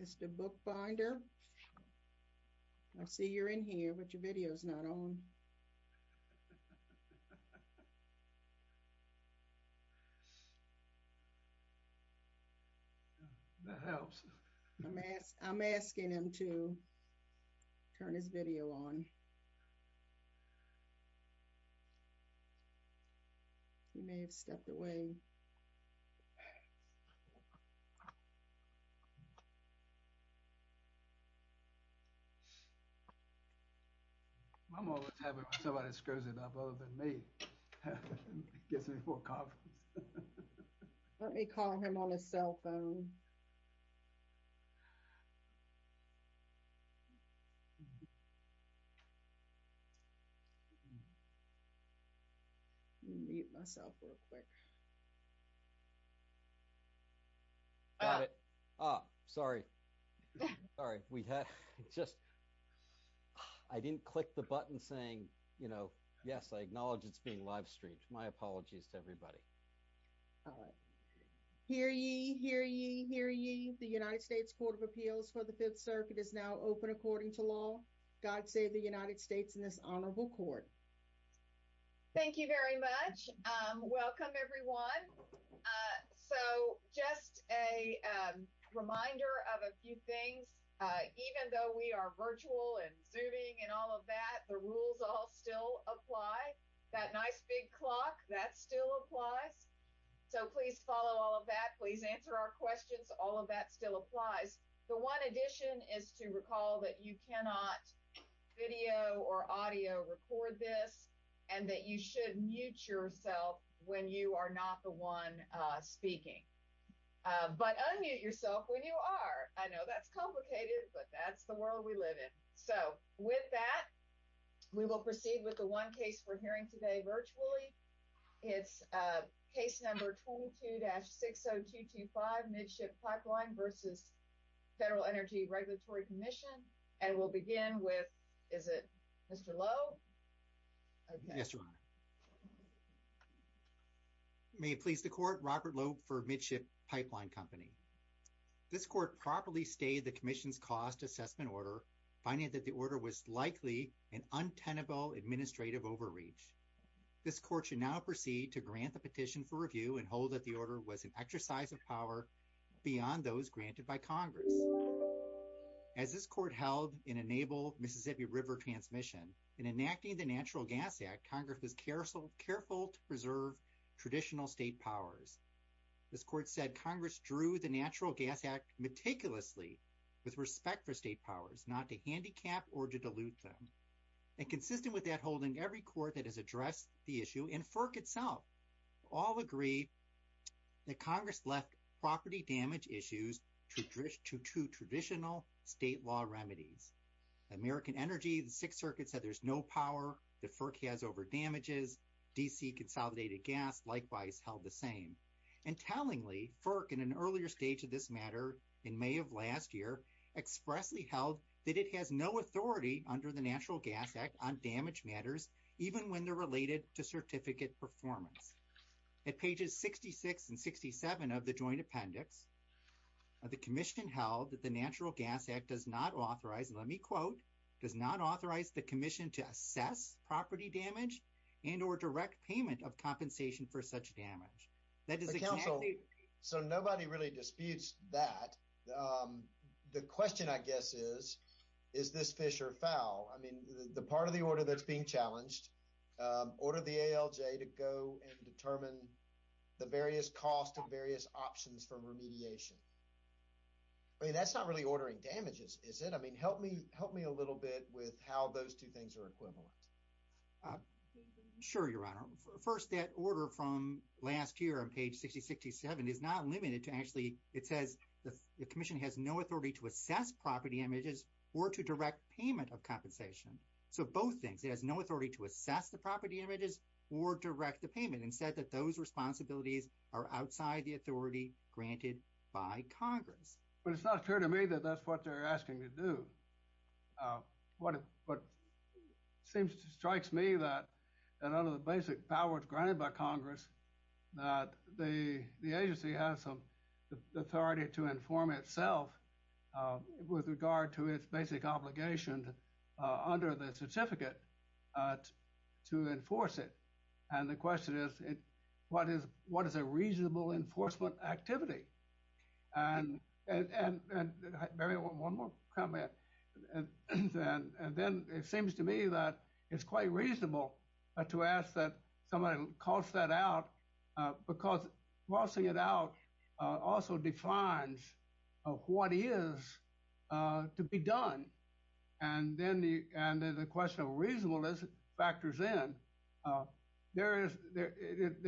Mr. Bookbinder, I see you're in here but your video's not on. I'm asking him to turn his video on. He may have stepped away. Let me call him on his cell phone. I'm going to mute myself real quick. I didn't click the button saying, you know, yes, I acknowledge it's being live streamed. My apologies to everybody. Hear ye, hear ye, hear ye. The United States Court of Appeals for the Fifth Circuit is now open according to law. God save the United States in this honorable court. Thank you very much. Welcome, everyone. So just a reminder of a few things. Even though we are virtual and Zooming and all of that, the rules all still apply. That nice big clock, that still applies. So please follow all of that. Please answer our questions. All of that still applies. The one addition is to recall that you cannot video or audio record this and that you should mute yourself when you are not the one speaking. But unmute yourself when you are. I know that's complicated, but that's the world we live in. So with that, we will proceed with the one case we're hearing today virtually. It's case number 22-60225, Midship Pipeline versus Federal Energy Regulatory Commission. And we'll begin with, is it Mr. Lowe? Yes, Your Honor. May it please the court, Robert Lowe for Midship Pipeline Company. This court properly stayed the commission's cost assessment order, finding that the order was likely an untenable administrative overreach. This court should now proceed to grant the petition for review and hold that the order was an exercise of power beyond those granted by Congress. As this court held in a naval Mississippi River transmission, in enacting the Natural Gas Act, Congress was careful to preserve traditional state powers. This court said Congress drew the Natural Gas Act meticulously with respect for state powers, not to handicap or to dilute them. And consistent with that, holding every court that has addressed the issue, and FERC itself, all agree that Congress left property damage issues to traditional state law remedies. American Energy, the Sixth Circuit said there's no power that FERC has over damages. D.C. consolidated gas, likewise, held the same. And tellingly, FERC in an earlier stage of this matter, in May of last year, expressly held that it has no authority under the Natural Gas Act on damage matters, even when they're related to certificate performance. At pages 66 and 67 of the joint appendix, the commission held that the Natural Gas Act does not authorize, and let me quote, does not authorize the commission to assess property damage and or direct payment of compensation for such damage. That is exactly— But, counsel, so nobody really disputes that. The question, I guess, is, is this fish or fowl? I mean, the part of the order that's being challenged, order the ALJ to go and determine the various costs and various options for remediation. I mean, that's not really ordering damages, is it? I mean, help me a little bit with how those two things are equivalent. Sure, Your Honor. First, that order from last year on page 66 to 67 is not limited to actually— it says the commission has no authority to assess property damages or to direct payment of compensation. So both things, it has no authority to assess the property damages or direct the payment, and said that those responsibilities are outside the authority granted by Congress. But it's not clear to me that that's what they're asking to do. What seems to strike me that under the basic powers granted by Congress, that the agency has some authority to inform itself with regard to its basic obligation under the certificate to enforce it. And the question is, what is a reasonable enforcement activity? And maybe one more comment. And then it seems to me that it's quite reasonable to ask that somebody calls that out because passing it out also defines what is to be done. And then the question of reasonableness factors in. It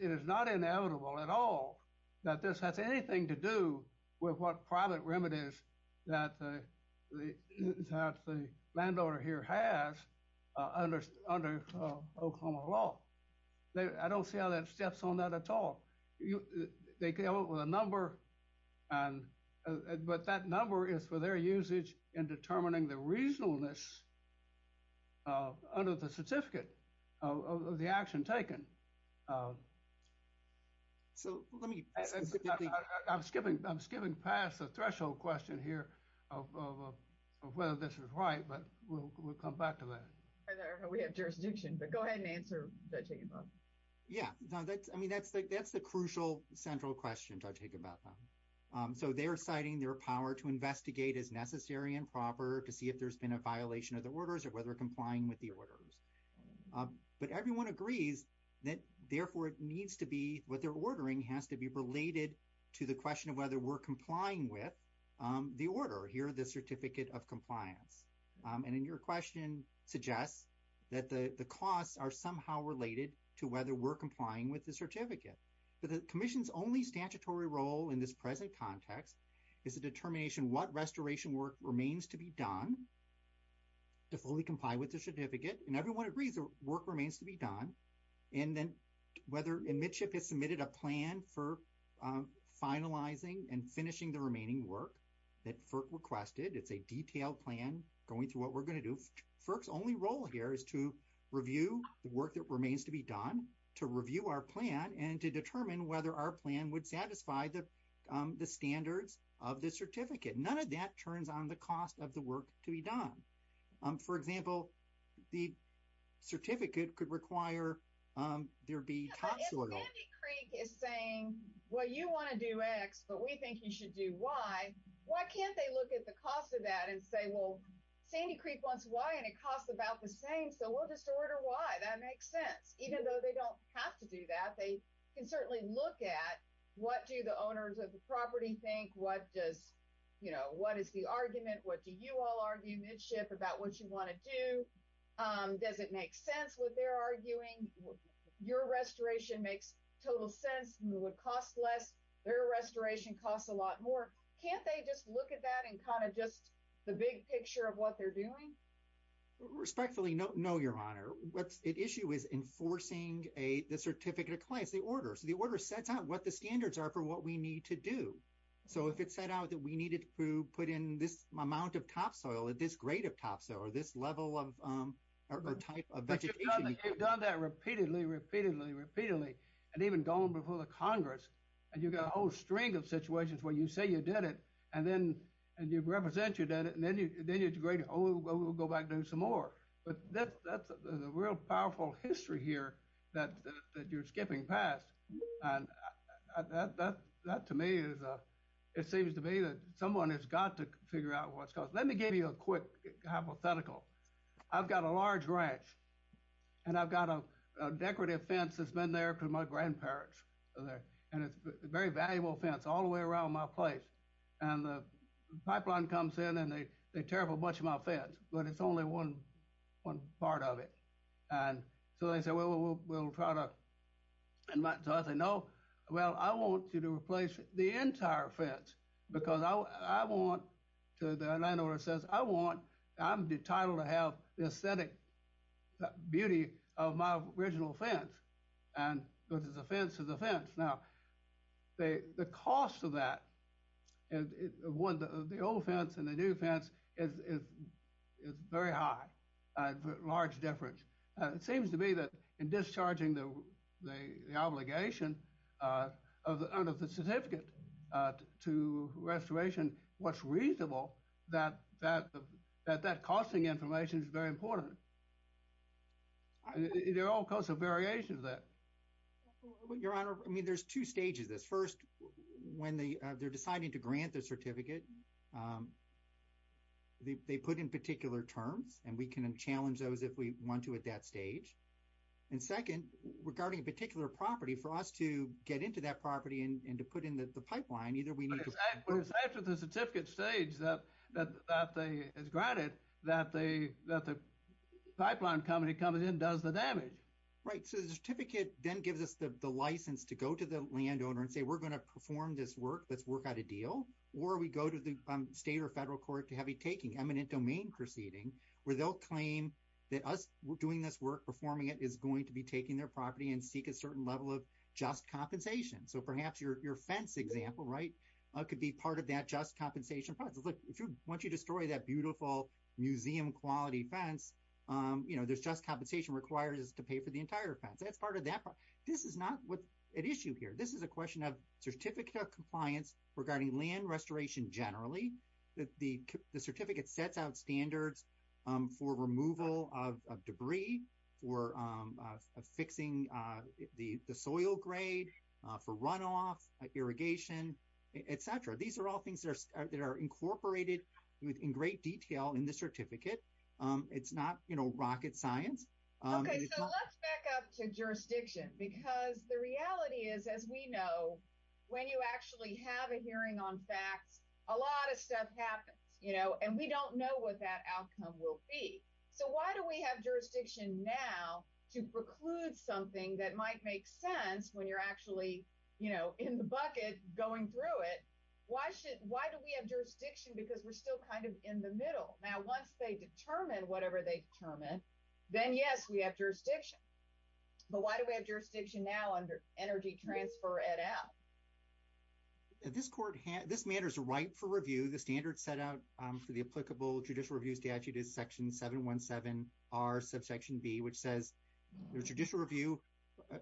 is not inevitable at all that this has anything to do with what private remedies that the landowner here has under Oklahoma law. I don't see how that steps on that at all. They come up with a number, but that number is for their usage in determining the reasonableness under the certificate of the action taken. So let me, I'm skipping past the threshold question here of whether this is right, but we'll come back to that. We have jurisdiction, but go ahead and answer. Yeah. I mean, that's the crucial central question I take about them. So they're citing their power to investigate as necessary and proper to see if there's been a violation of the orders or whether complying with the orders. But everyone agrees that therefore it needs to be what they're ordering has to be related to the question of whether we're complying with the order here, the certificate of compliance. And then your question suggests that the costs are somehow related to whether we're complying with the certificate. But the commission's only statutory role in this present context is a determination what restoration work remains to be done to fully comply with the certificate. And everyone agrees that work remains to be done. And then whether a midship has submitted a plan for finalizing and finishing the remaining work that FERC requested. It's a detailed plan going through what we're going to do. FERC's only role here is to review the work that remains to be done, to review our plan, and to determine whether our plan would satisfy the standards of the certificate. None of that turns on the cost of the work to be done. For example, the certificate could require there be topsoil. Sandy Creek is saying, well, you want to do X, but we think you should do Y. Why can't they look at the cost of that and say, well, Sandy Creek wants Y and it costs about the same, so we'll just order Y. That makes sense. Even though they don't have to do that, they can certainly look at what do the owners of the property think? What does, you know, what is the argument? What do you all argue midship about what you want to do? Does it make sense what they're arguing? Your restoration makes total sense. It would cost less. Their restoration costs a lot more. Can't they just look at that and kind of just the big picture of what they're doing? Respectfully, no, Your Honor. The issue is enforcing the certificate of claims, the order. So the order sets out what the standards are for what we need to do. So if it set out that we needed to put in this amount of topsoil or this grade of topsoil or this level or type of vegetation. You've done that repeatedly, repeatedly, repeatedly. And even gone before the Congress. And you've got a whole string of situations where you say you did it and then you represent you did it. And then you integrate it. Oh, well, we'll go back and do some more. But that's a real powerful history here that you're skipping past. And that, to me, it seems to me that someone has got to figure out what's caused. Let me give you a quick hypothetical. I've got a large ranch. And I've got a decorative fence that's been there for my grandparents. And it's a very valuable fence all the way around my place. And the pipeline comes in and they tear up a bunch of my fence. But it's only one part of it. And so they say, well, we'll try to. And so I say, no, well, I want you to replace the entire fence. Because I want, the landlord says, I'm entitled to have the aesthetic beauty of my original fence. And there's a fence to the fence. Now, the cost of that, of the old fence and the new fence, is very high. A large difference. It seems to me that in discharging the obligation of the certificate to restoration, what's reasonable, that that costing information is very important. There are all kinds of variations there. Your Honor, I mean, there's two stages to this. First, when they're deciding to grant the certificate, they put in particular terms. And we can challenge those if we want to at that stage. And second, regarding a particular property, for us to get into that property and to put in the pipeline, either we need to- But it's after the certificate stage that they, it's granted that the pipeline company coming in does the damage. Right. So the certificate then gives us the license to go to the landowner and say, we're going to perform this work, let's work out a deal. Or we go to the state or federal court to have a taking, eminent domain proceeding, where they'll claim that us doing this work, performing it, is going to be taking their property and seek a certain level of just compensation. So perhaps your fence example, right, could be part of that just compensation process. Once you destroy that beautiful museum-quality fence, you know, there's just compensation required to pay for the entire fence. That's part of that. This is not an issue here. This is a question of certificate compliance regarding land restoration generally. The certificate sets out standards for removal of debris, for fixing the soil grade, for runoff, irrigation, et cetera. These are all things that are incorporated in great detail in the certificate. It's not, you know, rocket science. Okay, so let's back up to jurisdiction because the reality is, as we know, when you actually have a hearing on facts, a lot of stuff happens, you know, and we don't know what that outcome will be. So why do we have jurisdiction now to preclude something that might make sense when you're actually, you know, in the bucket going through it? Why do we have jurisdiction because we're still kind of in the middle? Now, once they determine whatever they determine, then, yes, we have jurisdiction. But why do we have jurisdiction now under energy transfer et al? This matter is ripe for review. The standard set out for the applicable judicial review statute is Section 717R, subsection B, which says the judicial review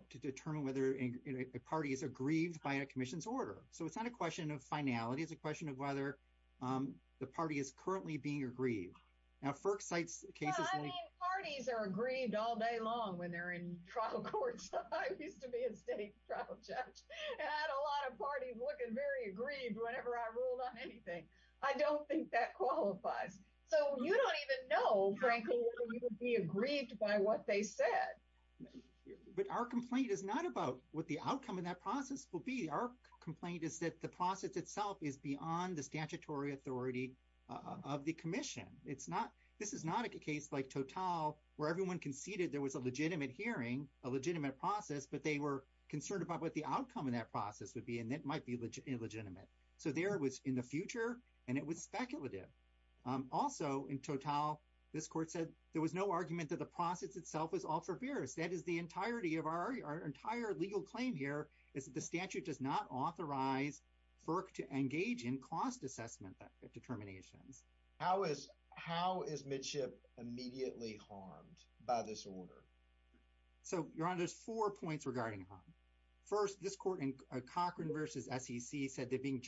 to determine whether a party is aggrieved by a commission's order. So it's not a question of finality. It's a question of whether the party is currently being aggrieved. Now, FERC cites cases like- Well, I mean, parties are aggrieved all day long when they're in trial courts. I used to be a state trial judge, and I had a lot of parties looking very aggrieved whenever I ruled on anything. I don't think that qualifies. So you don't even know, frankly, whether you would be aggrieved by what they said. But our complaint is not about what the outcome of that process will be. Our complaint is that the process itself is beyond the statutory authority of the commission. This is not a case like Total, where everyone conceded there was a legitimate hearing, a legitimate process, but they were concerned about what the outcome of that process would be, and it might be illegitimate. So there it was in the future, and it was speculative. Also, in Total, this court said there was no argument that the process itself was all forbearance. That is the entirety of our entire legal claim here, is that the statute does not authorize FERC to engage in cost assessment determinations. How is midship immediately harmed by this order? So, Your Honor, there's four points regarding harm. First, this court in Cochran v. SEC said that being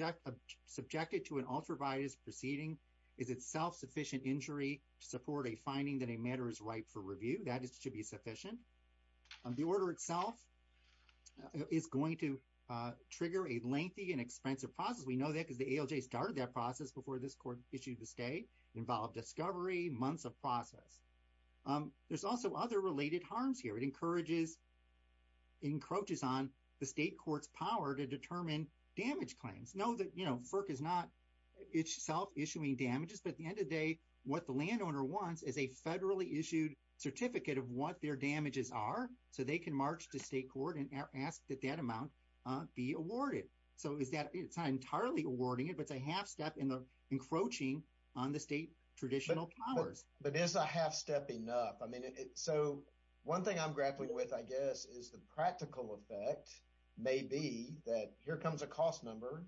subjected to an ultraviolet proceeding is itself sufficient injury to support a finding that a matter is ripe for review. That is to be sufficient. The order itself is going to trigger a lengthy and expensive process. We know that because the ALJ started that process before this court issued the state. It involved discovery, months of process. There's also other related harms here. It encroaches on the state court's power to determine damage claims. Know that, you know, FERC is not itself issuing damages, but at the end of the day, what the landowner wants is a federally issued certificate of what their damages are, so they can march to state court and ask that that amount be awarded. So it's not entirely awarding it, but it's a half step in the encroaching on the state traditional powers. But is a half step enough? I mean, so one thing I'm grappling with, I guess, is the practical effect may be that here comes a cost number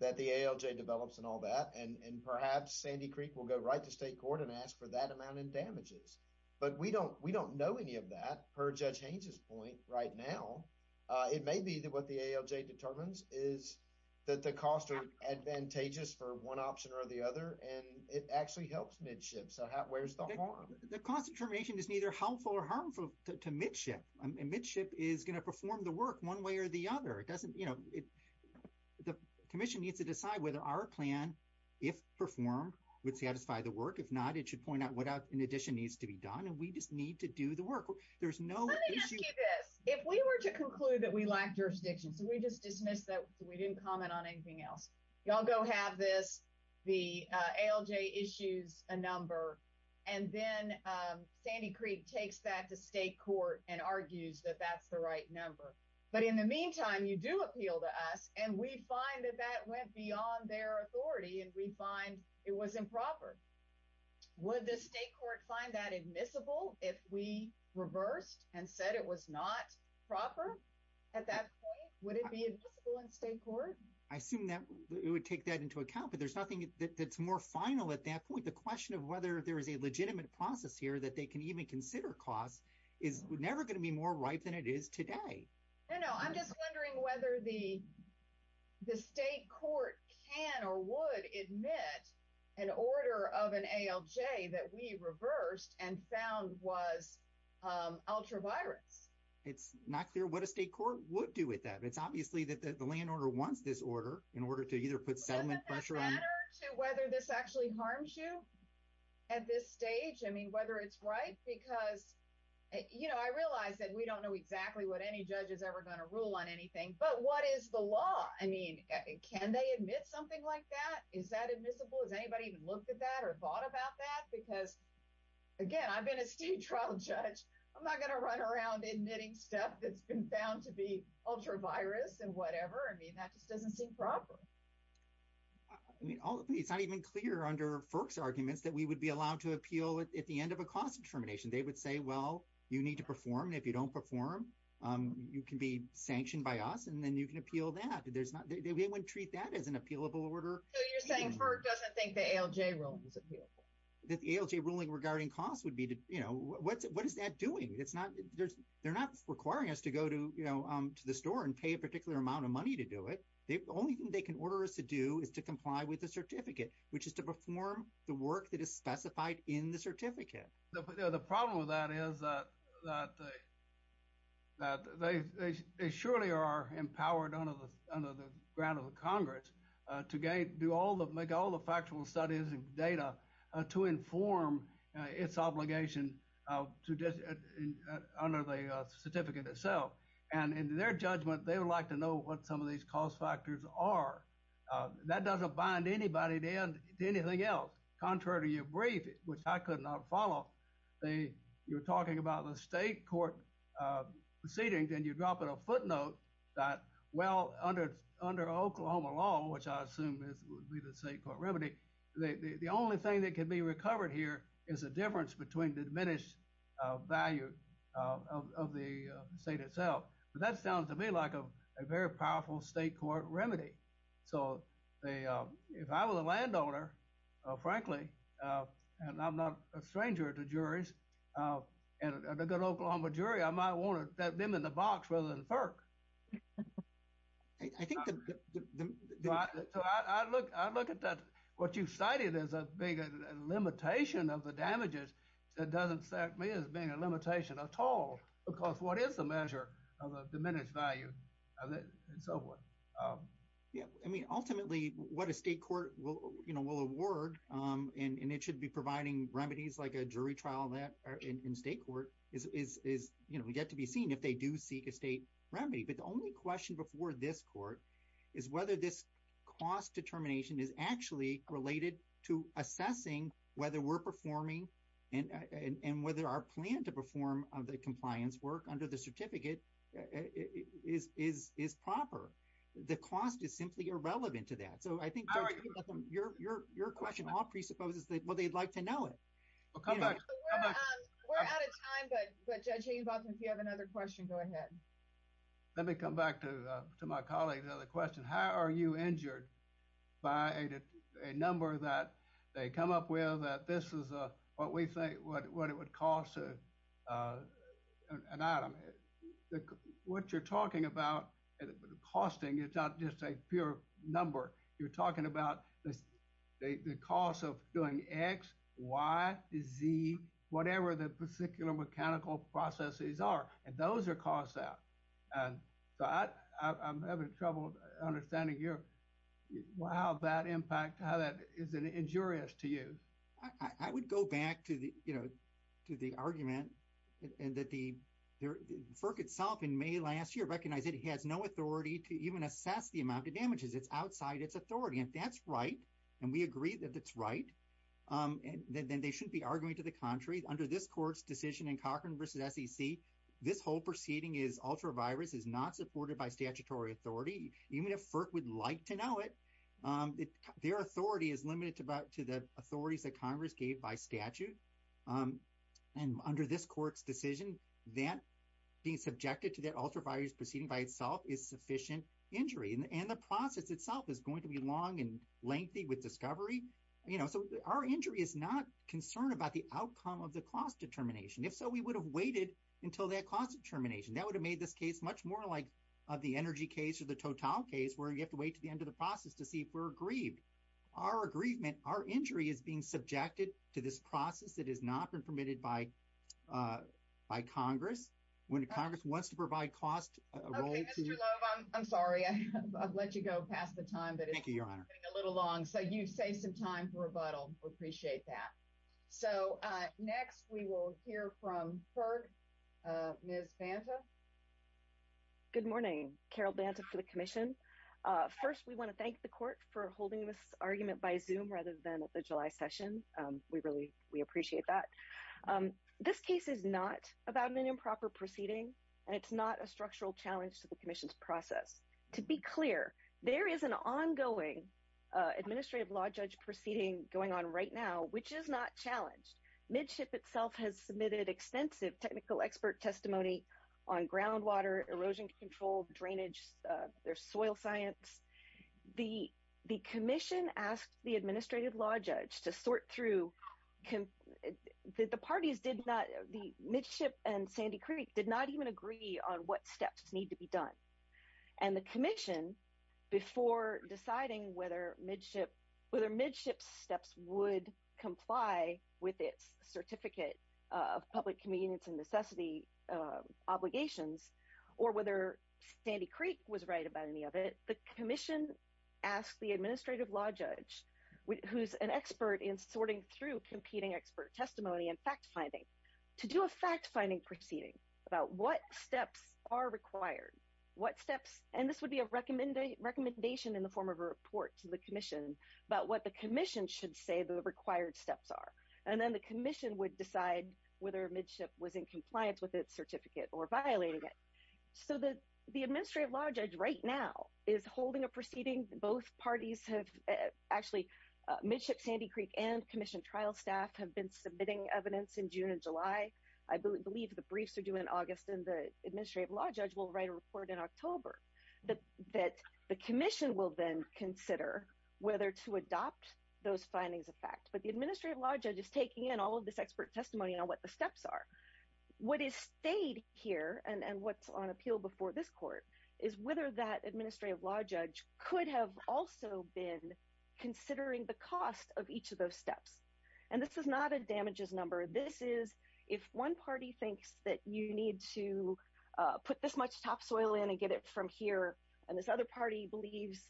that the ALJ develops and all that, and perhaps Sandy Creek will go right to state court and ask for that amount in damages. But we don't know any of that per Judge Haynes' point right now. It may be that what the ALJ determines is that the costs are advantageous for one option or the other, and it actually helps midship. So where's the harm? The cost determination is neither helpful or harmful to midship, and midship is going to perform the work one way or the other. It doesn't, you know, the commission needs to decide whether our plan, if performed, would satisfy the work. If not, it should point out what in addition needs to be done, and we just need to do the work. There's no issue. Let me ask you this. If we were to conclude that we lack jurisdiction, so we just dismissed that we didn't comment on anything else. Y'all go have this, the ALJ issues a number, and then Sandy Creek takes that to state court and argues that that's the right number. But in the meantime, you do appeal to us, and we find that that went beyond their authority, and we find it was improper. Would the state court find that admissible if we reversed and said it was not proper at that point? Would it be admissible in state court? I assume that it would take that into account, but there's nothing that's more final at that point. The question of whether there is a legitimate process here that they can even consider costs is never going to be more ripe than it is today. No, no. I'm just wondering whether the state court can or would admit an order of an ALJ that we reversed and found was ultra-violence. It's not clear what a state court would do with that. It's obviously that the land order wants this order in order to either put settlement pressure on it. Doesn't that matter to whether this actually harms you at this stage? I mean, whether it's right? Because, you know, I realize that we don't know exactly what any judge is ever going to rule on anything, but what is the law? I mean, can they admit something like that? Is that admissible? Has anybody even looked at that or thought about that? Because, again, I've been a state trial judge. I'm not going to run around admitting stuff that's been found to be ultra-virus and whatever. I mean, that just doesn't seem proper. It's not even clear under FERC's arguments that we would be allowed to appeal at the end of a cost determination. They would say, well, you need to perform. If you don't perform, you can be sanctioned by us, and then you can appeal that. They wouldn't treat that as an appealable order. So you're saying FERC doesn't think the ALJ ruling is appealable? The ALJ ruling regarding cost would be, you know, what is that doing? They're not requiring us to go to the store and pay a particular amount of money to do it. The only thing they can order us to do is to comply with the certificate, which is to perform the work that is specified in the certificate. The problem with that is that they surely are empowered under the grant of the Congress to make all the factual studies and data to inform its obligation under the certificate itself. And in their judgment, they would like to know what some of these cost factors are. That doesn't bind anybody to anything else. Contrary to your brief, which I could not follow, you were talking about the state court proceedings, and you drop in a footnote that, well, under Oklahoma law, which I assume would be the state court remedy, the only thing that can be recovered here is a difference between the diminished value of the state itself. But that sounds to me like a very powerful state court remedy. So if I was a landowner, frankly, and I'm not a stranger to juries, and a good Oklahoma jury, I might want to have them in the box rather than FERC. So I look at that, what you cited as being a limitation of the damages, it doesn't strike me as being a limitation at all, because what is the measure of a diminished value? I mean, ultimately, what a state court will award, and it should be providing remedies like a jury trial in state court, we get to be seen if they do seek a state remedy. But the only question before this court is whether this cost determination is actually related to assessing whether we're performing, and whether our plan to perform the compliance work under the certificate is proper. The cost is simply irrelevant to that. So I think your question all presupposes that, well, they'd like to know it. We're out of time, but Judge Hayden-Botham, if you have another question, go ahead. Let me come back to my colleague's other question. How are you injured by a number that they come up with that this is what we call an item? What you're talking about, costing, it's not just a pure number. You're talking about the cost of doing X, Y, Z, whatever the particular mechanical processes are, and those are cost out. So I'm having trouble understanding how that impact, how that is injurious to you. I would go back to the argument that FERC itself in May last year recognized that it has no authority to even assess the amount of damages. It's outside its authority. If that's right, and we agree that that's right, then they shouldn't be arguing to the contrary. Under this court's decision in Cochran v. SEC, this whole proceeding is ultra-virus, is not supported by statutory authority. Even if FERC would like to know it, their authority is limited to the authorities that Congress gave by statute. And under this court's decision, that being subjected to that ultra-virus proceeding by itself is sufficient injury. And the process itself is going to be long and lengthy with discovery. So our injury is not concerned about the outcome of the cost determination. If so, we would have waited until that cost determination. That would have made this case much more like the energy case or the process to see if we're aggrieved. Our aggrievement, our injury is being subjected to this process that has not been permitted by Congress. When Congress wants to provide cost. I'm sorry. I've let you go past the time. Thank you, Your Honor. A little long. So you've saved some time for rebuttal. We appreciate that. So next we will hear from FERC, Ms. Banta. Good morning, Carol Banta for the commission. First, we want to thank the court for holding this argument by zoom rather than at the July session. We really, we appreciate that. This case is not about an improper proceeding and it's not a structural challenge to the commission's process. To be clear, there is an ongoing administrative law judge proceeding going on right now, which is not challenged. Midship itself has submitted extensive technical expert testimony on groundwater, erosion control, drainage, their soil science. The, the commission asked the administrative law judge to sort through. The parties did not, the midship and Sandy Creek did not even agree on what steps need to be done. And the commission before deciding whether midship, whether midship steps would comply with its certificate of public convenience and necessity obligations, or whether Sandy Creek was right about any of it. The commission asked the administrative law judge who's an expert in sorting through competing expert testimony and fact finding to do a fact finding proceeding about what steps are required, what steps, and this would be a recommendation in the form of a report to the commission, but what the commission should say the required steps are. And then the commission would decide whether midship was in compliance with its certificate or violating it. So the, the administrative law judge right now is holding a proceeding. Both parties have actually a midship, Sandy Creek and commission trial staff have been submitting evidence in June and July. I believe the briefs are due in August and the administrative law judge will write a report in October that the commission will then consider whether to adopt those findings of fact, but the administrative law judge is taking in all of this expert testimony on what the steps are. What is stayed here and, and what's on appeal before this court is whether that administrative law judge could have also been considering the cost of each of those steps. And this is not a damages number. This is if one party thinks that you need to put this much top soil in and get it from here. And this other party believes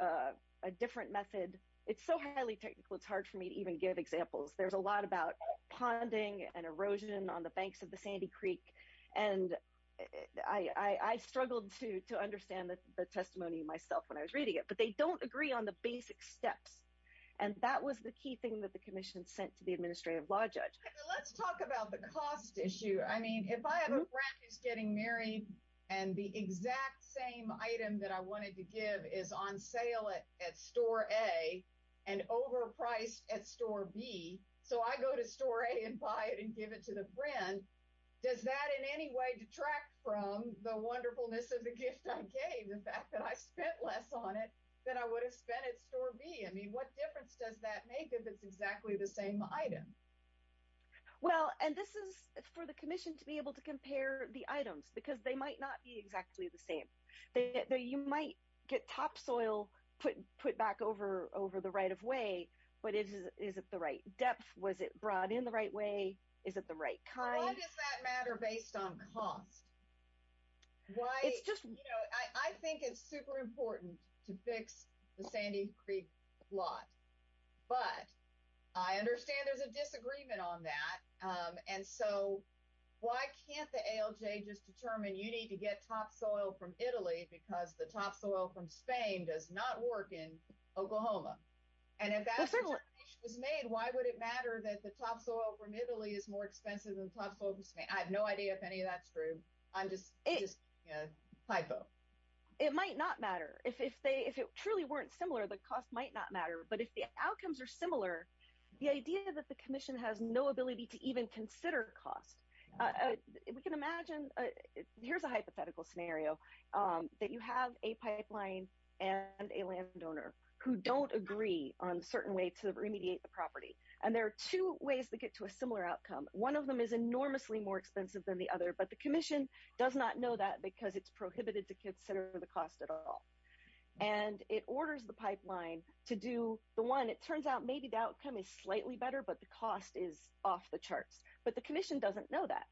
a different method. It's so highly technical. It's hard for me to even give examples. There's a lot about ponding and erosion on the banks of the Sandy Creek. And I, I struggled to, to understand that the testimony myself when I was reading it, but they don't agree on the basic steps. And that was the key thing that the commission sent to the administrative law judge. Let's talk about the cost issue. I mean, if I have a practice getting married and the exact same item that I wanted to give is on sale at, at store a and overpriced at store B. So I go to store a and buy it and give it to the brand. Does that in any way detract from the wonderfulness of the gift? Okay. The fact that I spent less on it than I would have spent at store B. I mean, what difference does that make if it's exactly the same item? Well, and this is for the commission to be able to compare the items because they might not be exactly the same. They, they, you might get topsoil put, put back over, over the right of way, but it is, is it the right depth? Was it brought in the right way? Is it the right kind? Does that matter based on cost? Why it's just, you know, I think it's super important to fix the Sandy Creek lot, but I understand there's a disagreement on that. And so why can't the ALJ just determine you need to get topsoil from Italy because the topsoil from Spain does not work in Oklahoma. And if that was made, why would it matter that the topsoil from Italy is more expensive than top focus? I have no idea if any of that's true. I'm just, it's just a hypo. It might not matter if, if they, if it truly weren't similar, the cost might not matter, but if the outcomes are similar, the idea that the commission has no ability to even consider cost, we can imagine. Here's a hypothetical scenario that you have a pipeline and a landowner who don't agree on a certain way to remediate the property. And there are two ways to get to a similar outcome. One of them is enormously more expensive than the other, but the commission does not know that because it's prohibited to consider the cost at all. And it orders the pipeline to do the one. It turns out maybe the outcome is slightly better, but the cost is off the charts, but the commission doesn't know that.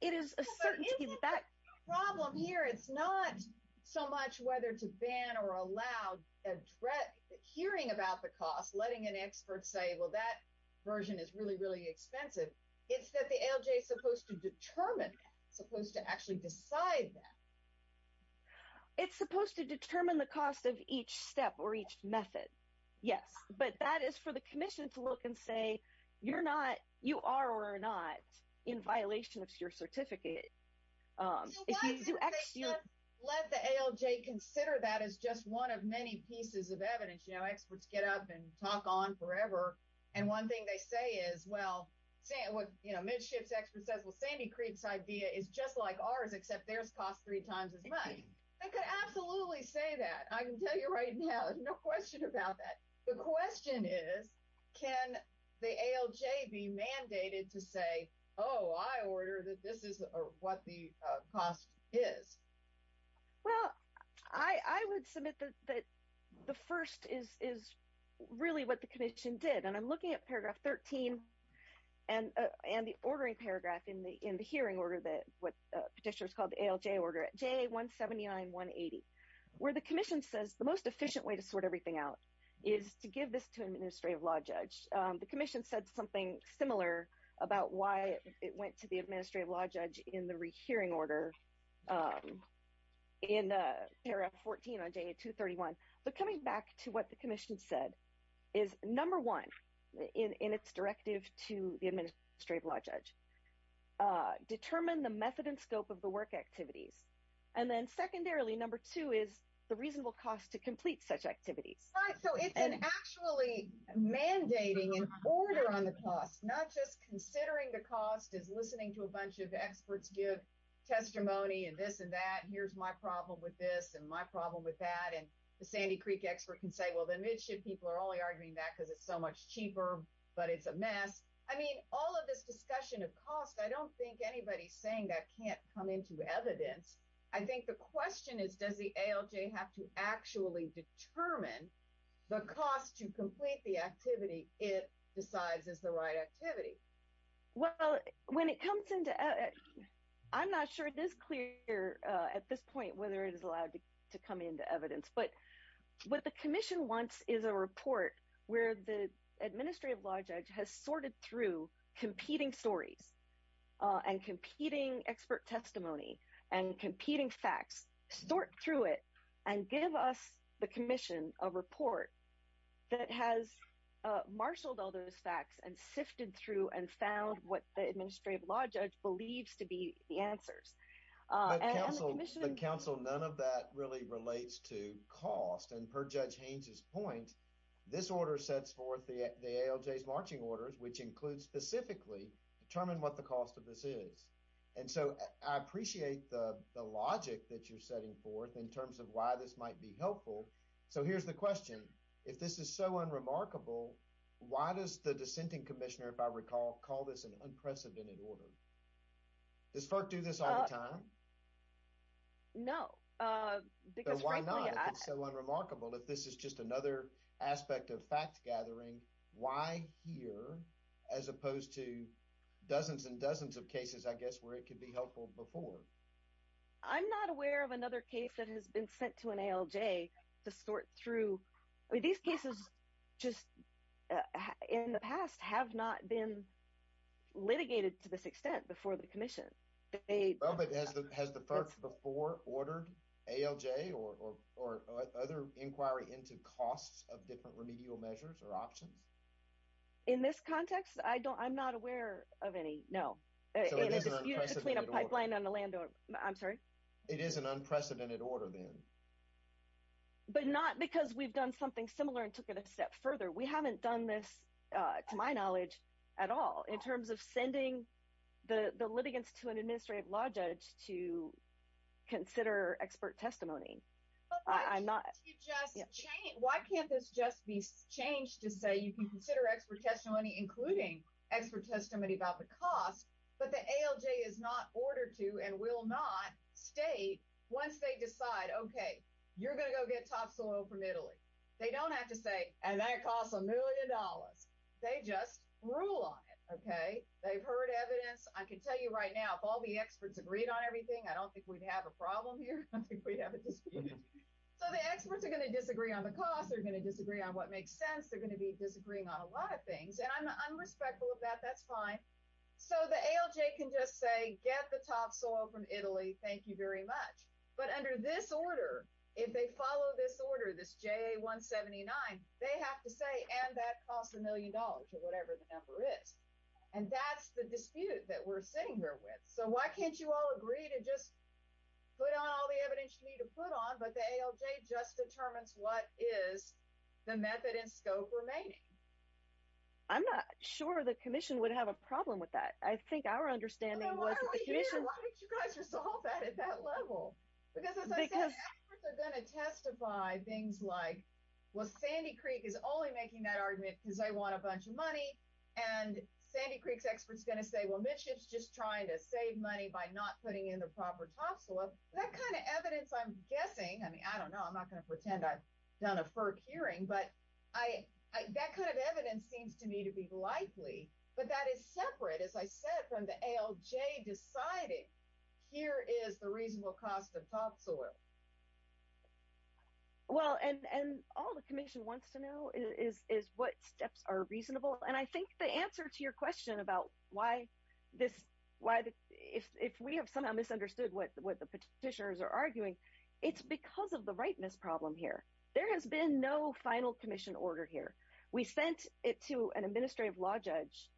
It is a certainty that. The problem here, it's not so much whether to ban or allow a threat, hearing about the cost, letting an expert say, well, that version is really, really expensive. It's that the ALJ is supposed to determine, supposed to actually decide that. It's supposed to determine the cost of each step or each method. Yes. But that is for the commission to look and say, you're not, you are or are not in violation of your certificate. Let the ALJ consider that as just one of many pieces of evidence, you know, experts get up and talk on forever. And one thing they say is, well, say what, you know, midships expert says, well, Sandy creeps idea is just like ours, except there's cost three times as much. I could absolutely say that. I can tell you right now, no question about that. The question is, can the ALJ be mandated to say, oh, I order that. This is what the cost is. Well, I would submit that the first is, is really what the commission did. And I'm looking at paragraph 13 and, and the ordering paragraph in the, in the hearing order, that what petitioners called the ALJ order at J one 79, one 80, where the commission says the most efficient way to sort everything out is to give this to administrative law judge. The commission said something similar about why it went to the administrative law judge in the rehearing order. In a paragraph 14 on J two 31, but coming back to what the commission said is number one in, in its directive to the administrative law judge, determine the method and scope of the work activities. And then secondarily, number two is the reasonable cost to complete such activities. And actually mandating an order on the cost, not just considering the cost is listening to a bunch of experts, give testimony and this and that, and here's my problem with this and my problem with that. And the Sandy Creek expert can say, well, then it should, people are only arguing that because it's so much cheaper, but it's a mess. I mean, all of this discussion of costs, I don't think anybody's saying that can't come into evidence. I think the question is, does the ALJ have to actually determine the cost to complete the activity? It decides is the right activity. Well, when it comes into, I'm not sure it is clear at this point, whether it is allowed to come into evidence, but what the commission wants is a report where the administrative law judge has sorted through competing stories and competing expert testimony and competing facts, sort through it and give us the commission, a report that has marshaled all those facts and sifted through and found what the administrative law judge believes to be the answers. The council, none of that really relates to cost. And per judge Haines's point, this order sets forth the ALJ's marching orders, which includes specifically determine what the cost of this is. And so I appreciate the logic that you're setting forth in terms of why this might be helpful. So here's the question. If this is so unremarkable, why does the dissenting commissioner, if I recall, call this an unprecedented order? Does FERC do this all the time? No, because frankly, it's so unremarkable. If this is just another aspect of fact gathering, why here, as opposed to dozens and dozens of cases, I guess, where it could be helpful before. I'm not aware of another case that has been sent to an ALJ to sort through. I mean, these cases just in the past have not been litigated to this extent before the commission. Has the FERC before ordered ALJ or, or other inquiry into costs of different remedial measures or options? In this context? I don't, I'm not aware of any. No, it is between a pipeline on the land. I'm sorry. It is an unprecedented order then, but not because we've done something similar and took it a step further. We haven't done this to my knowledge at all in terms of sending the, the litigants to an administrative law judge to consider expert testimony. I'm not, you just change. Why can't this just be changed to say you can consider expert testimony, including expert testimony about the cost, but the ALJ is not ordered to and will not stay once they decide, okay, you're going to go get top soil from Italy. They don't have to say, and that costs a million dollars. They just rule on it. Okay. They've heard evidence. I can tell you right now, if all the experts agreed on everything, I don't think we'd have a problem here. So the experts are going to disagree on the cost. They're going to disagree on what makes sense. They're going to be disagreeing on a lot of things. And I'm, I'm respectful of that. That's fine. So the ALJ can just say, get the top soil from Italy. Thank you very much. But under this order, if they follow this order, this JA 179, they have to say, and that costs a million dollars or whatever the number is. And that's the dispute that we're sitting here with. So why can't you all agree to just put on all the evidence you need to put on, but the ALJ just determines what is the method and scope remaining? I'm not sure the commission would have a problem with that. I think our understanding was that the commission. Why don't you guys resolve that at that level? Because as I said, experts are going to testify things like, well, Sandy Creek is only making that argument because I want a bunch of money. And Sandy Creek's experts going to say, well, Mitch is just trying to save money by not putting in the proper top soil. That kind of evidence I'm guessing. I mean, I don't know. I'm not going to pretend I've done a FERC hearing, but I, that kind of evidence seems to me to be likely, but that is separate. As I said, from the ALJ decided here is the reasonable cost of top soil. Well, and all the commission wants to know is, is what steps are reasonable. Well, and I think the answer to your question about why this, why if, if we have somehow misunderstood what the, what the petitioners are arguing, it's because of the rightness problem here. There has been no final commission order here. We sent it to an administrative law judge.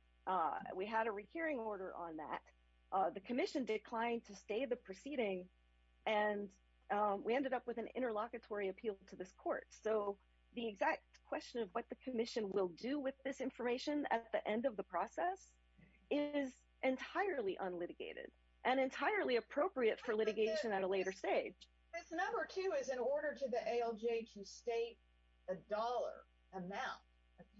We had a recurring order on that. The commission declined to stay the proceeding. And we ended up with an interlocutory appeal to this court. So the exact question of what the commission will do with this information at the end of the process is entirely unlitigated and entirely appropriate for litigation at a later stage. Number two is in order to the ALJ to state a dollar amount.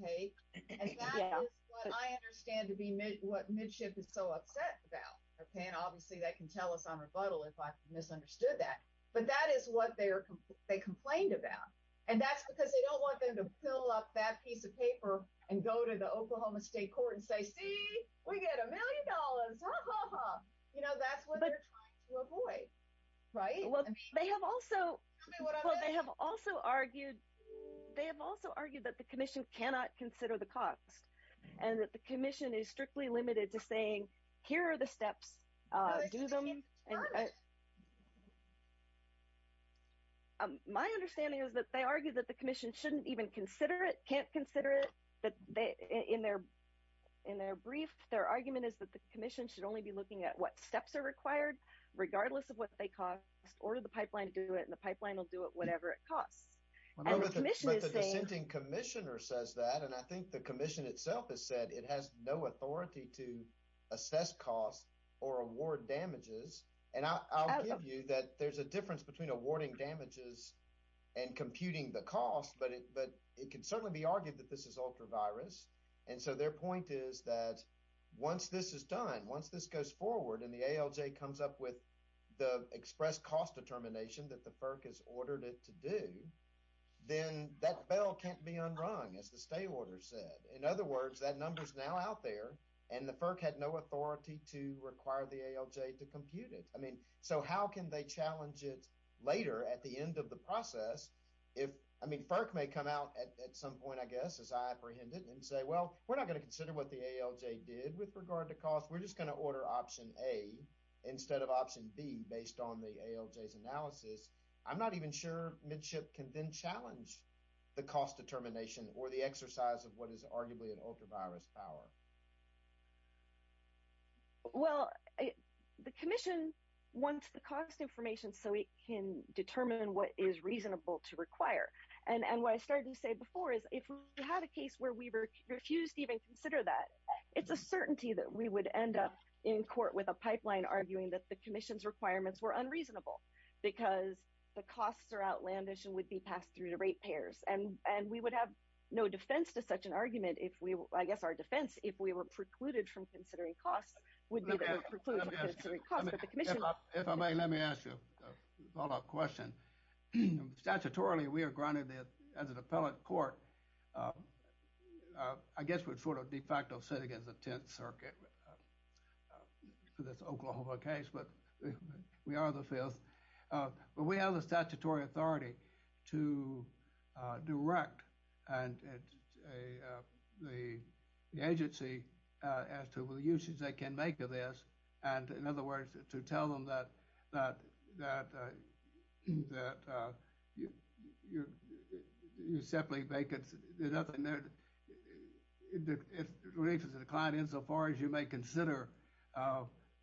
Okay. And that is what I understand to be mid, what midship is so upset about. Okay. And obviously that can tell us on rebuttal if I misunderstood that, but that is what they are. They complained about, and that's because they don't want them to fill up that piece of paper and go to the Oklahoma state court and say, see, we get a million dollars. You know, that's what they're trying to avoid. Right. Well, they have also, they have also argued. They have also argued that the commission cannot consider the cost and that the commission is strictly limited to saying, here are the steps. Do them. My understanding is that they argue that the commission shouldn't even consider it. Can't consider it. But they, in their, in their brief, their argument is that the commission should only be looking at what steps are required, regardless of what they cost or the pipeline to do it. And the pipeline will do it, whatever it costs. Commissioner says that. And I think the commission itself has said it has no authority to assess costs or award damages. And I'll give you that. There's a difference between awarding damages and computing the cost, but it, but it can certainly be argued that this is ultra virus. And so their point is that once this is done, once this goes forward and the ALJ comes up with the express cost determination that the FERC has ordered it to do, then that bell can't be unrung as the state order said. In other words, that number's now out there and the FERC had no authority to require the ALJ to compute it. I mean, so how can they challenge it later at the end of the process? If, I mean, FERC may come out at some point, I guess, as I apprehend it and say, well, we're not going to consider what the ALJ did with regard to cost. We're just going to order option A instead of option B based on the ALJ's analysis. I'm not even sure midship can then challenge the cost determination or the exercise of what is arguably an ultra virus power. Well, the commission wants the cost information so it can determine what is reasonable to require. And, and what I started to say before is if we had a case where we were refused to even consider that, it's a certainty that we would end up in court with a pipeline arguing that the commission's requirements were unreasonable because the costs are outlandish and would be passed through to rate payers. And we would have no defense to such an argument if we, I guess, as our defense, if we were precluded from considering costs would be precluded from considering costs. If I may, let me ask you a follow up question. Statutorily, we are granted that as an appellate court, I guess we're sort of de facto sitting against the 10th circuit for this Oklahoma case, but we are the fifth. But we have the statutory authority to direct and the agency as to what uses they can make of this. And in other words, to tell them that, that, that you simply make it, there's nothing there, it relates to the client insofar as you may consider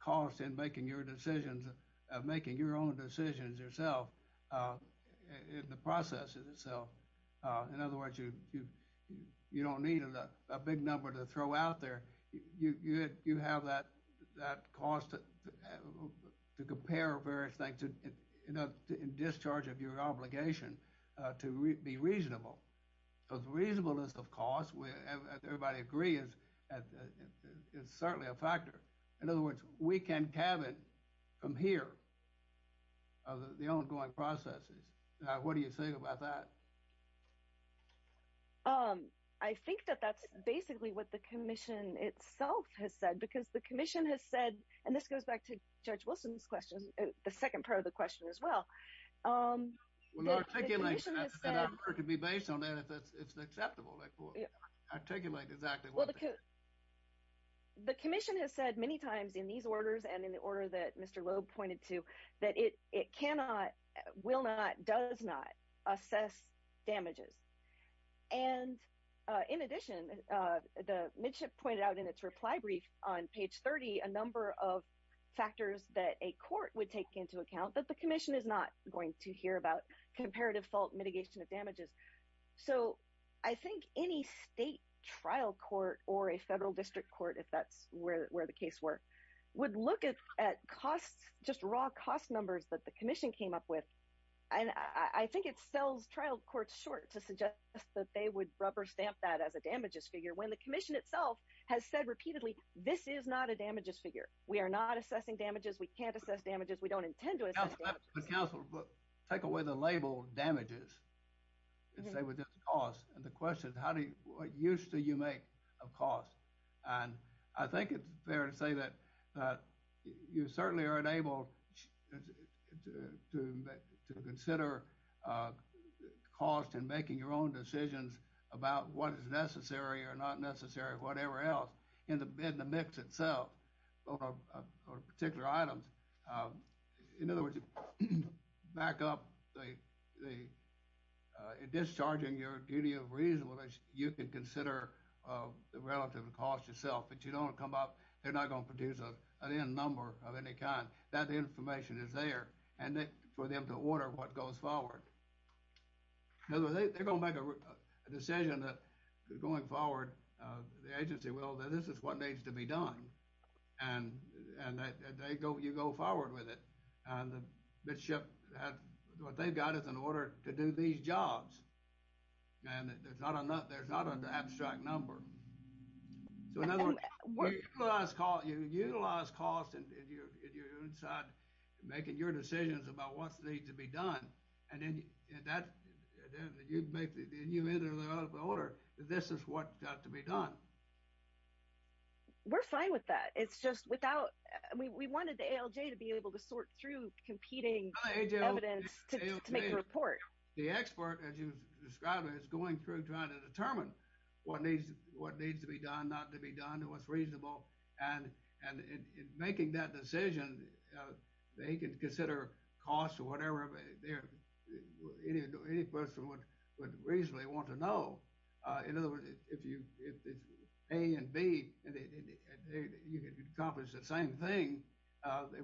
costs in making your decisions, of making your own decisions yourself in the process itself. In other words, you don't need a big number to throw out there. You have that cost to compare various things in discharge of your obligation to be reasonable. So the reasonableness of costs, everybody agrees, it's certainly a factor. In other words, we can cabin from here the ongoing processes. What do you think about that? I think that that's basically what the commission itself has said, because the commission has said, and this goes back to Judge Wilson's question, the second part of the question as well. Well, I can be based on that if it's acceptable, articulate exactly what the commission has said many times in these orders and in the order that Mr. Wilnot does not assess damages. And in addition, the midship pointed out in its reply brief on page 30, a number of factors that a court would take into account that the commission is not going to hear about comparative fault mitigation of damages. So I think any state trial court or a federal district court, if that's where, where the case work would look at costs, just raw cost numbers that the commission came up with. And I think it sells trial courts short to suggest that they would rubber stamp that as a damages figure. When the commission itself has said repeatedly, this is not a damages figure. We are not assessing damages. We can't assess damages. We don't intend to assess damages. But counsel, take away the label damages and say with this cost and the question, how do you, what use do you make of costs? And I think it's fair to say that you certainly are unable to, to, to consider cost in making your own decisions about what is necessary or not necessary, whatever else in the mix itself or particular items. In other words, back up the discharging your duty of reasonableness. You can consider the relative cost yourself, but you don't come up, they're not going to produce an N number of any kind. That information is there and for them to order what goes forward. They're going to make a decision that going forward, the agency will, that this is what needs to be done. And, and they go, you go forward with it. And the midship, what they've got is an order to do these jobs. And there's not enough, there's not an abstract number. So in other words, you utilize cost and you're inside making your decisions about what needs to be done. And then that, then you make the, you either the order, this is what got to be done. We're fine with that. It's just without, we wanted the ALJ to be able to sort through competing evidence to make a report. The expert, as you described it, is going through, trying to determine what needs, what needs to be done, not to be done. And what's reasonable. And, and making that decision, they can consider costs or whatever. Any person would, would reasonably want to know. In other words, if you, if it's A and B, you can accomplish the same thing.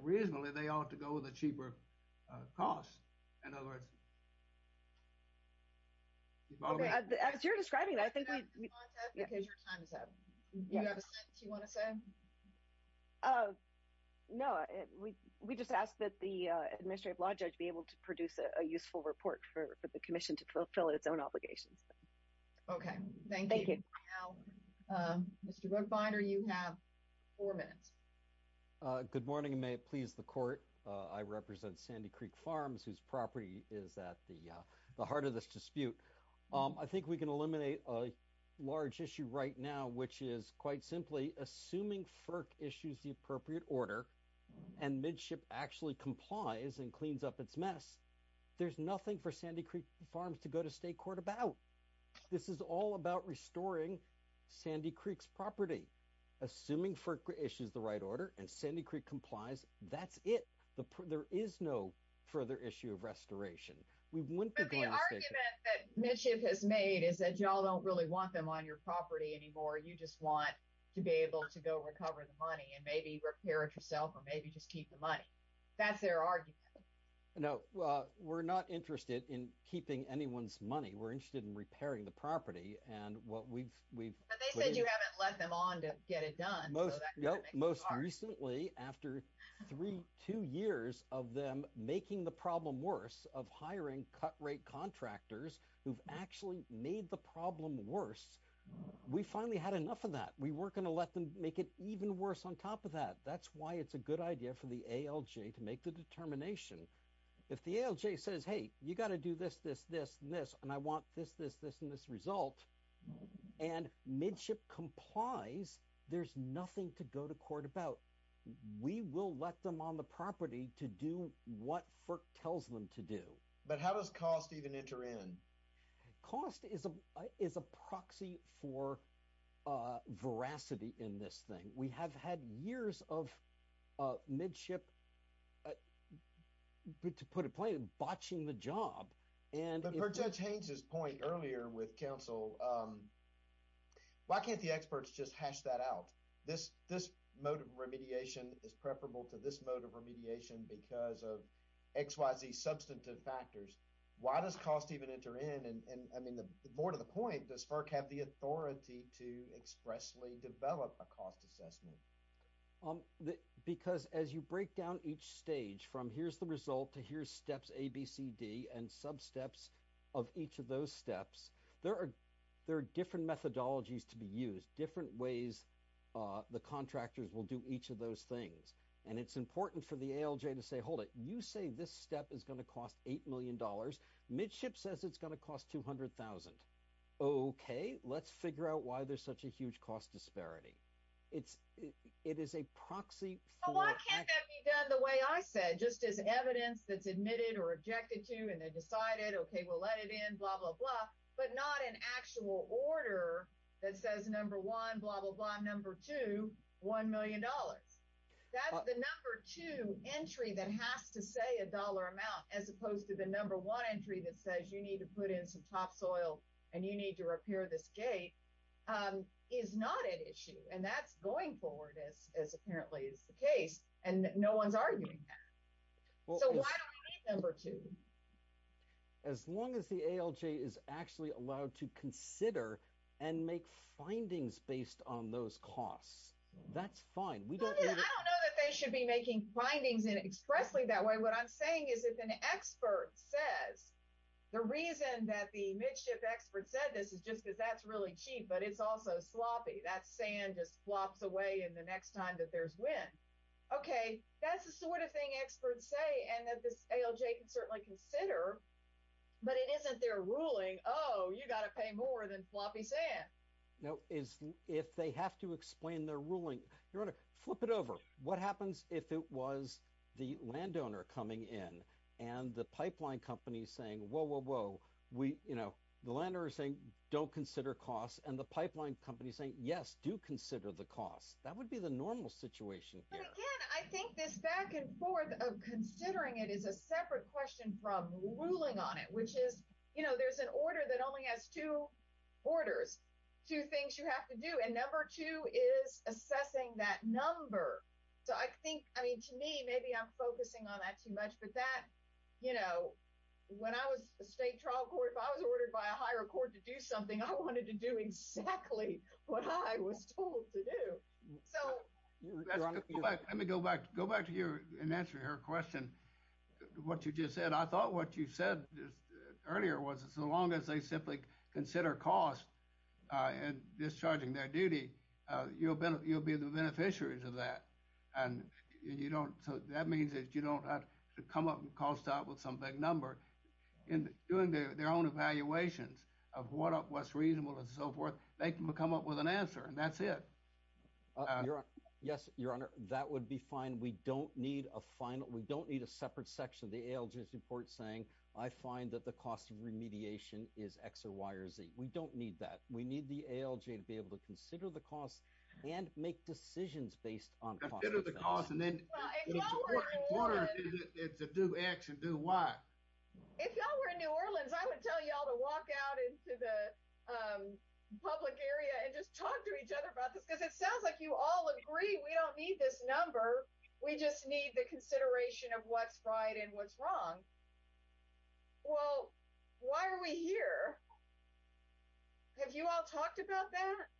Reasonably, they ought to go with a cheaper cost. In other words. Okay. As you're describing, I think your time is up. Do you have a sentence you want to say? Oh, no. We, we just asked that the administrative law judge be able to produce a useful report for the commission to fulfill its own obligations. Okay. Thank you. Now, Mr. Binder, you have four minutes. Good morning. May it please the court. I represent Sandy Creek farms. Whose property is that the, the heart of this dispute. I think we can eliminate a large issue right now, which is quite simply assuming FERC issues, the appropriate order and midship actually complies and cleans up its mess. There's nothing for Sandy Creek farms to go to state court about. This is all about restoring Sandy Creek's property, assuming FERC issues, the right order and Sandy Creek complies. That's it. There is no further issue of restoration. We wouldn't be going to state court. But the argument that midship has made is that y'all don't really want them on your property anymore. You just want to be able to go recover the money and maybe repair it yourself or maybe just keep the money. That's their argument. No, well, we're not interested in keeping anyone's money. We're interested in repairing the property and what we've, we've. But they said you haven't let them on to get it done. Most recently after three, two years of them making the problem worse of hiring cut rate contractors, who've actually made the problem worse. We finally had enough of that. We were going to let them make it even worse on top of that. That's why it's a good idea for the ALJ to make the determination. If the ALJ says, Hey, you got to do this, this, this, this, and I want this, this, this, and this result. And midship complies. There's nothing to go to court about. We will let them on the property to do what FERC tells them to do. But how does cost even enter in? Cost is a, is a proxy for veracity in this thing. We have had years of midship, but to put it plain botching the job and. Per Judge Haynes' point earlier with council. Why can't the experts just hash that out? This, this mode of remediation is preferable to this mode of remediation because of X, Y, Z substantive factors. Why does cost even enter in? And I mean, the more to the point does FERC have the authority to expressly develop a cost assessment? Because as you break down each stage from here's the result to here's steps, C, D and sub steps of each of those steps. There are, there are different methodologies to be used, different ways. The contractors will do each of those things. And it's important for the ALJ to say, hold it. You say this step is going to cost $8 million. Midship says it's going to cost 200,000. Okay. Let's figure out why there's such a huge cost disparity. It's, it is a proxy. Why can't that be done the way I said, just as evidence that's admitted or rejected to, and then decided, we'll let it in, blah, blah, blah, but not an actual order that says, number one, blah, blah, blah. Number two, $1 million. That's the number two entry that has to say a dollar amount, as opposed to the number one entry that says you need to put in some top soil. And you need to repair this gate is not an issue. And that's going forward as, as apparently is the case. And no one's arguing. So why don't we need number two? As long as the ALJ is actually allowed to consider and make findings based on those costs. That's fine. We don't know that they should be making findings in expressly. That way. What I'm saying is if an expert says, the reason that the midship expert said, this is just because that's really cheap, but it's also sloppy. That's saying just flops away. And the next time that there's when, okay, that's the sort of thing experts say. And that this ALJ can certainly consider, but it isn't their ruling. Oh, you got to pay more than floppy sand. No, is if they have to explain their ruling, you're going to flip it over. What happens if it was the landowner coming in and the pipeline company saying, whoa, whoa, whoa, we, you know, the landowners saying don't consider costs and the pipeline company saying, yes, do consider the cost. That would be the normal situation. I think this back and forth of considering it is a separate question from ruling on it, which is, you know, there's an order that only has two orders, two things you have to do. And number two is assessing that number. So I think, I mean, to me, maybe I'm focusing on that too much, but that, you know, when I was a state trial court, if I was ordered by a higher court to do something, I wanted to do exactly what I was told to do. So. Let me go back, go back to your answer to her question. What you just said. I thought what you said earlier was as long as they simply consider costs and discharging their duty, you'll be the beneficiaries of that. And you don't. So that means that you don't have to come up and call stop with some big number. In doing their own evaluations of what up, what's reasonable and so forth. They can come up with an answer and that's it. Yes, your honor. That would be fine. We don't need a final. We don't need a separate section of the ALGS report saying I find that the cost of remediation is X or Y or Z. We don't need that. We need the ALG to be able to consider the costs and make decisions based on. It's a do X and do Y. If y'all were in new Orleans, I would tell y'all to walk out into the public area and just talk to each other about this. Cause it sounds like you all agree. We don't need this number. We just need the consideration of what's right. And what's wrong. Well, why are we here? Have you all talked about that?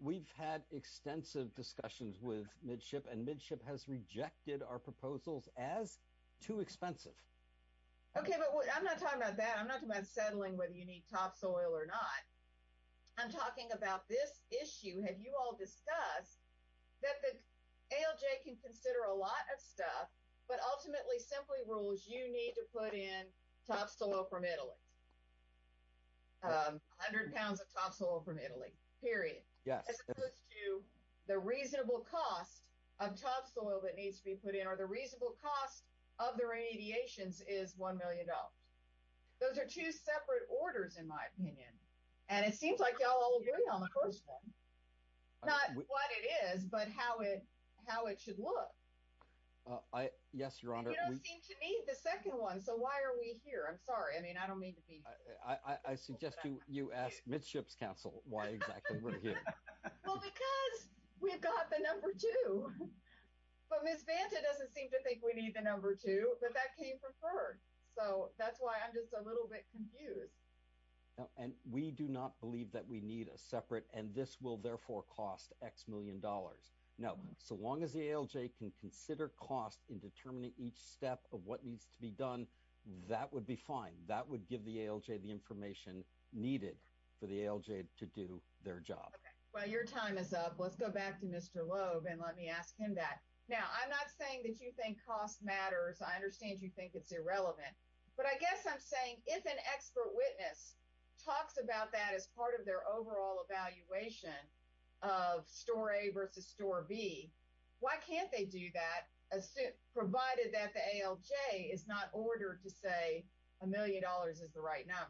We've had extensive discussions with midship and midship has rejected our proposals as too expensive. Okay. I'm not talking about that. I'm not talking about settling whether you need topsoil or not. I'm talking about this issue. Have you all discussed that? ALJ can consider a lot of stuff, but ultimately simply rules. You need to put in topsoil from Italy. A hundred pounds of topsoil from Italy period. Yes. The reasonable cost of topsoil that needs to be put in, or the reasonable cost of the radiations is $1 million. Those are two separate orders in my opinion. And it seems like y'all all agree on the first one, not what it is, but how it, how it should look. Yes, Your Honor. You don't seem to need the second one. So why are we here? I'm sorry. I mean, I don't mean to be. I suggest you ask midships council. Why exactly? Well, because we've got the number two, but Ms. Vanta doesn't seem to think we need the number two, but that came from her. So that's why I'm just a little bit confused. And we do not believe that we need a separate, and this will therefore cost X million dollars. No. So long as the ALJ can consider costs in determining each step of what needs to be done, that would be fine. That would give the ALJ the information needed for the ALJ to do their job. Well, your time is up. Let's go back to Mr. Loeb and let me ask him that. Now, I'm not saying that you think cost matters. I understand you think it's irrelevant, but I guess I'm saying, if an expert witness talks about that as part of their overall evaluation of store A versus store B, why can't they do that? Provided that the ALJ is not ordered to say a million dollars is the right number.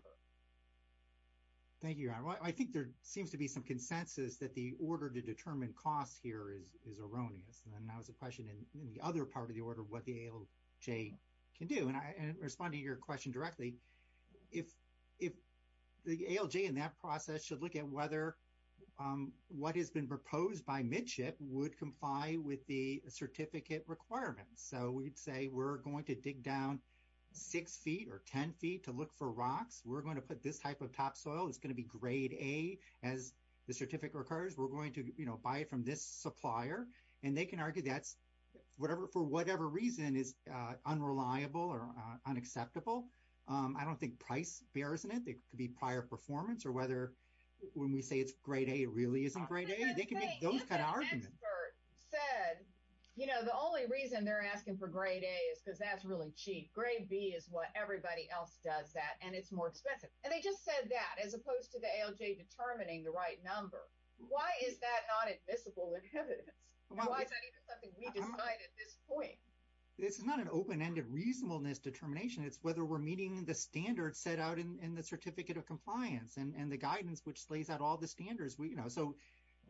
Thank you, Your Honor. Well, I think there seems to be some consensus that the order to determine costs here is, is erroneous. And then I was a question in the other part of the order of what the ALJ can do. And I respond to your question directly. If, if the ALJ in that process should look at whether, what has been proposed by midship would comply with the certificate requirements. So we'd say we're going to dig down six feet or 10 feet to look for rocks. We're going to put this type of topsoil. It's going to be grade A. As the certificate occurs, we're going to, you know, buy it from this supplier and they can argue that's whatever, for whatever reason is unreliable or unacceptable. I don't think price bears in it. It could be prior performance or whether when we say it's grade A really isn't grade A, they can make those kind of arguments. You know, the only reason they're asking for grade A is because that's really cheap. Grade B is what everybody else does that. And it's more expensive. And they just said that as opposed to the ALJ determining the right number, why is that not admissible? It's not an open-ended reasonableness determination. It's whether we're meeting the standards set out in the certificate of compliance and the guidance, which lays out all the standards we, you know, so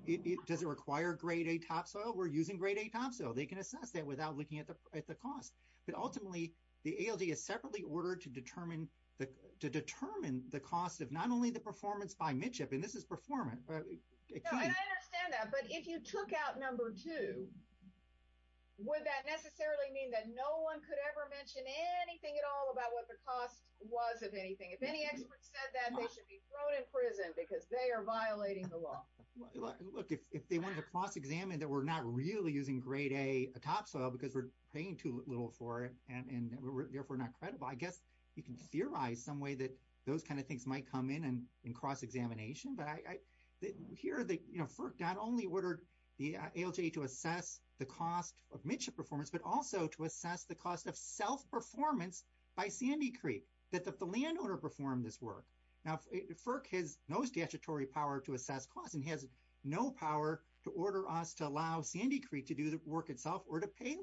it doesn't require grade A topsoil. We're using grade A topsoil. They can assess that without looking at the cost, but ultimately the ALJ is separately ordered to determine the, to determine the cost of not only the performance by midship, and this is performance. I understand that. But if you took out number two, would that necessarily mean that no one could ever mention anything at all about what the cost was of anything? If any experts said that, they should be thrown in prison because they are violating the law. Look, if they wanted to cross examine that we're not really using grade A topsoil because we're paying too little for it and therefore not credible, I guess you can theorize some way that those kinds of things might come in and cross examination. But I, here, you know, FERC not only ordered the ALJ to assess the cost of midship performance, but also to assess the cost of self-performance by Sandy Creek, that the landowner performed this work. Now FERC has no statutory power to assess costs and has no power to order us to allow Sandy Creek to do the work itself or to pay.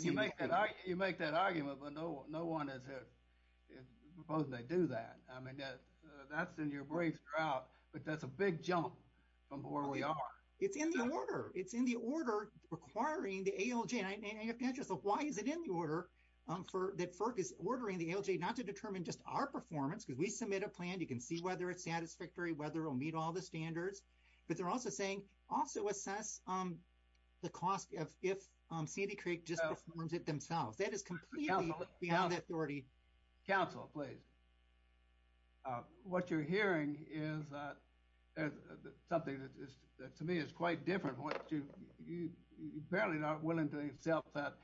You make that, you make that argument, but no, no one is proposing they do that. I mean, that's in your briefs drought, but that's a big jump from where we are. It's in the order. It's in the order requiring the ALJ. And I have to ask you, why is it in the order that FERC is ordering the ALJ not to determine just our performance? Because we submit a plan. You can see whether it's satisfactory, whether it'll meet all the standards, but they're also saying also assess the cost of, if Sandy Creek just performs it themselves, that is completely beyond the authority. Council, please. What you're hearing is something that to me is quite different. You're barely not willing to accept that,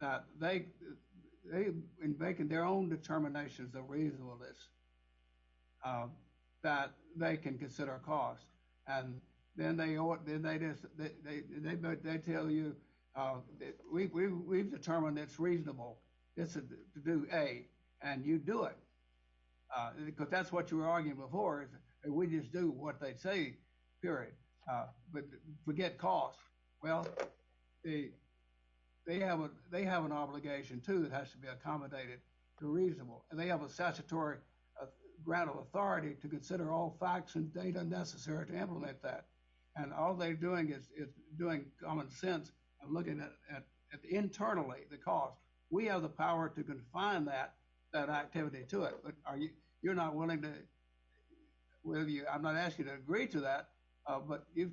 that they in making their own determinations of reasonableness, that they can consider cost. And then they tell you, we've determined it's reasonable to do A, and you do it. Because that's what you were arguing before. We just do what they say, period, but forget cost. Well, they have an obligation too, that has to be accommodated to reasonable. And they have a statutory ground of authority to consider all facts and data necessary to implement that. And all they're doing is doing common sense and looking at internally the cost. We have the power to confine that activity to it, but you're not willing to, I'm not asking you to agree to that, but it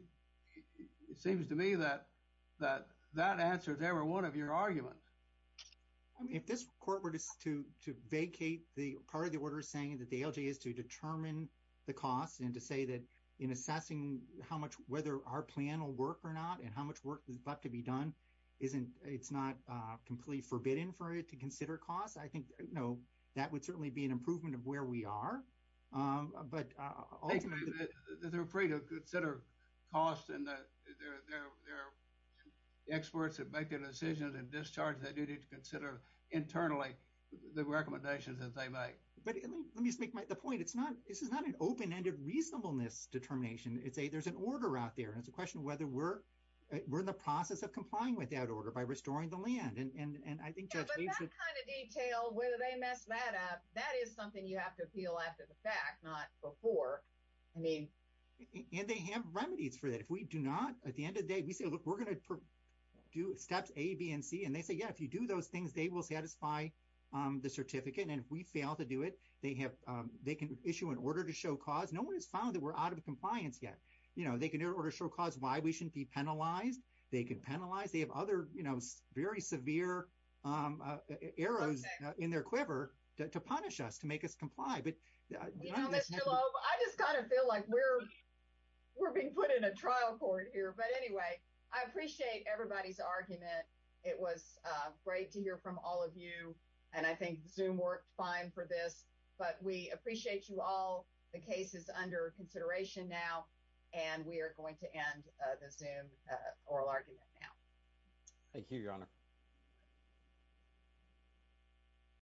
seems to me that that answer is every one of your arguments. If this court were to vacate part of the order saying that the ALJ is to determine the cost and to say that in assessing how much, whether our plan will work or not, and how much work is about to be done, it's not completely forbidden for it to consider cost. I think that would certainly be an improvement of where we are, but ultimately- They're afraid to consider cost, and they're experts at making decisions and discharges. They do need to consider internally the recommendations that they make. But let me just make the point, this is not an open-ended reasonableness determination. It's a, there's an order out there, and it's a question of whether we're in the process of complying with that order by restoring the land. Yeah, but that kind of detail, whether they mess that up, that is something you have to appeal after the fact, not before. And they have remedies for that. If we do not, at the end of the day, we say, look, we're going to do steps A, B, and C. And they say, yeah, if you do those things, they will satisfy the certificate. And if we fail to do it, they can issue an order to show cause. No one has found that we're out of compliance yet. They can issue an order to show cause why we shouldn't be penalized. They can penalize. They have other very severe arrows in their quiver to punish us, to make us comply. Well, Mr. Loeb, I just kind of feel like we're, we're being put in a trial court here, but anyway, I appreciate everybody's argument. It was great to hear from all of you. And I think Zoom worked fine for this, but we appreciate you all the cases under consideration now, and we are going to end the Zoom oral argument now. Thank you, Your Honor.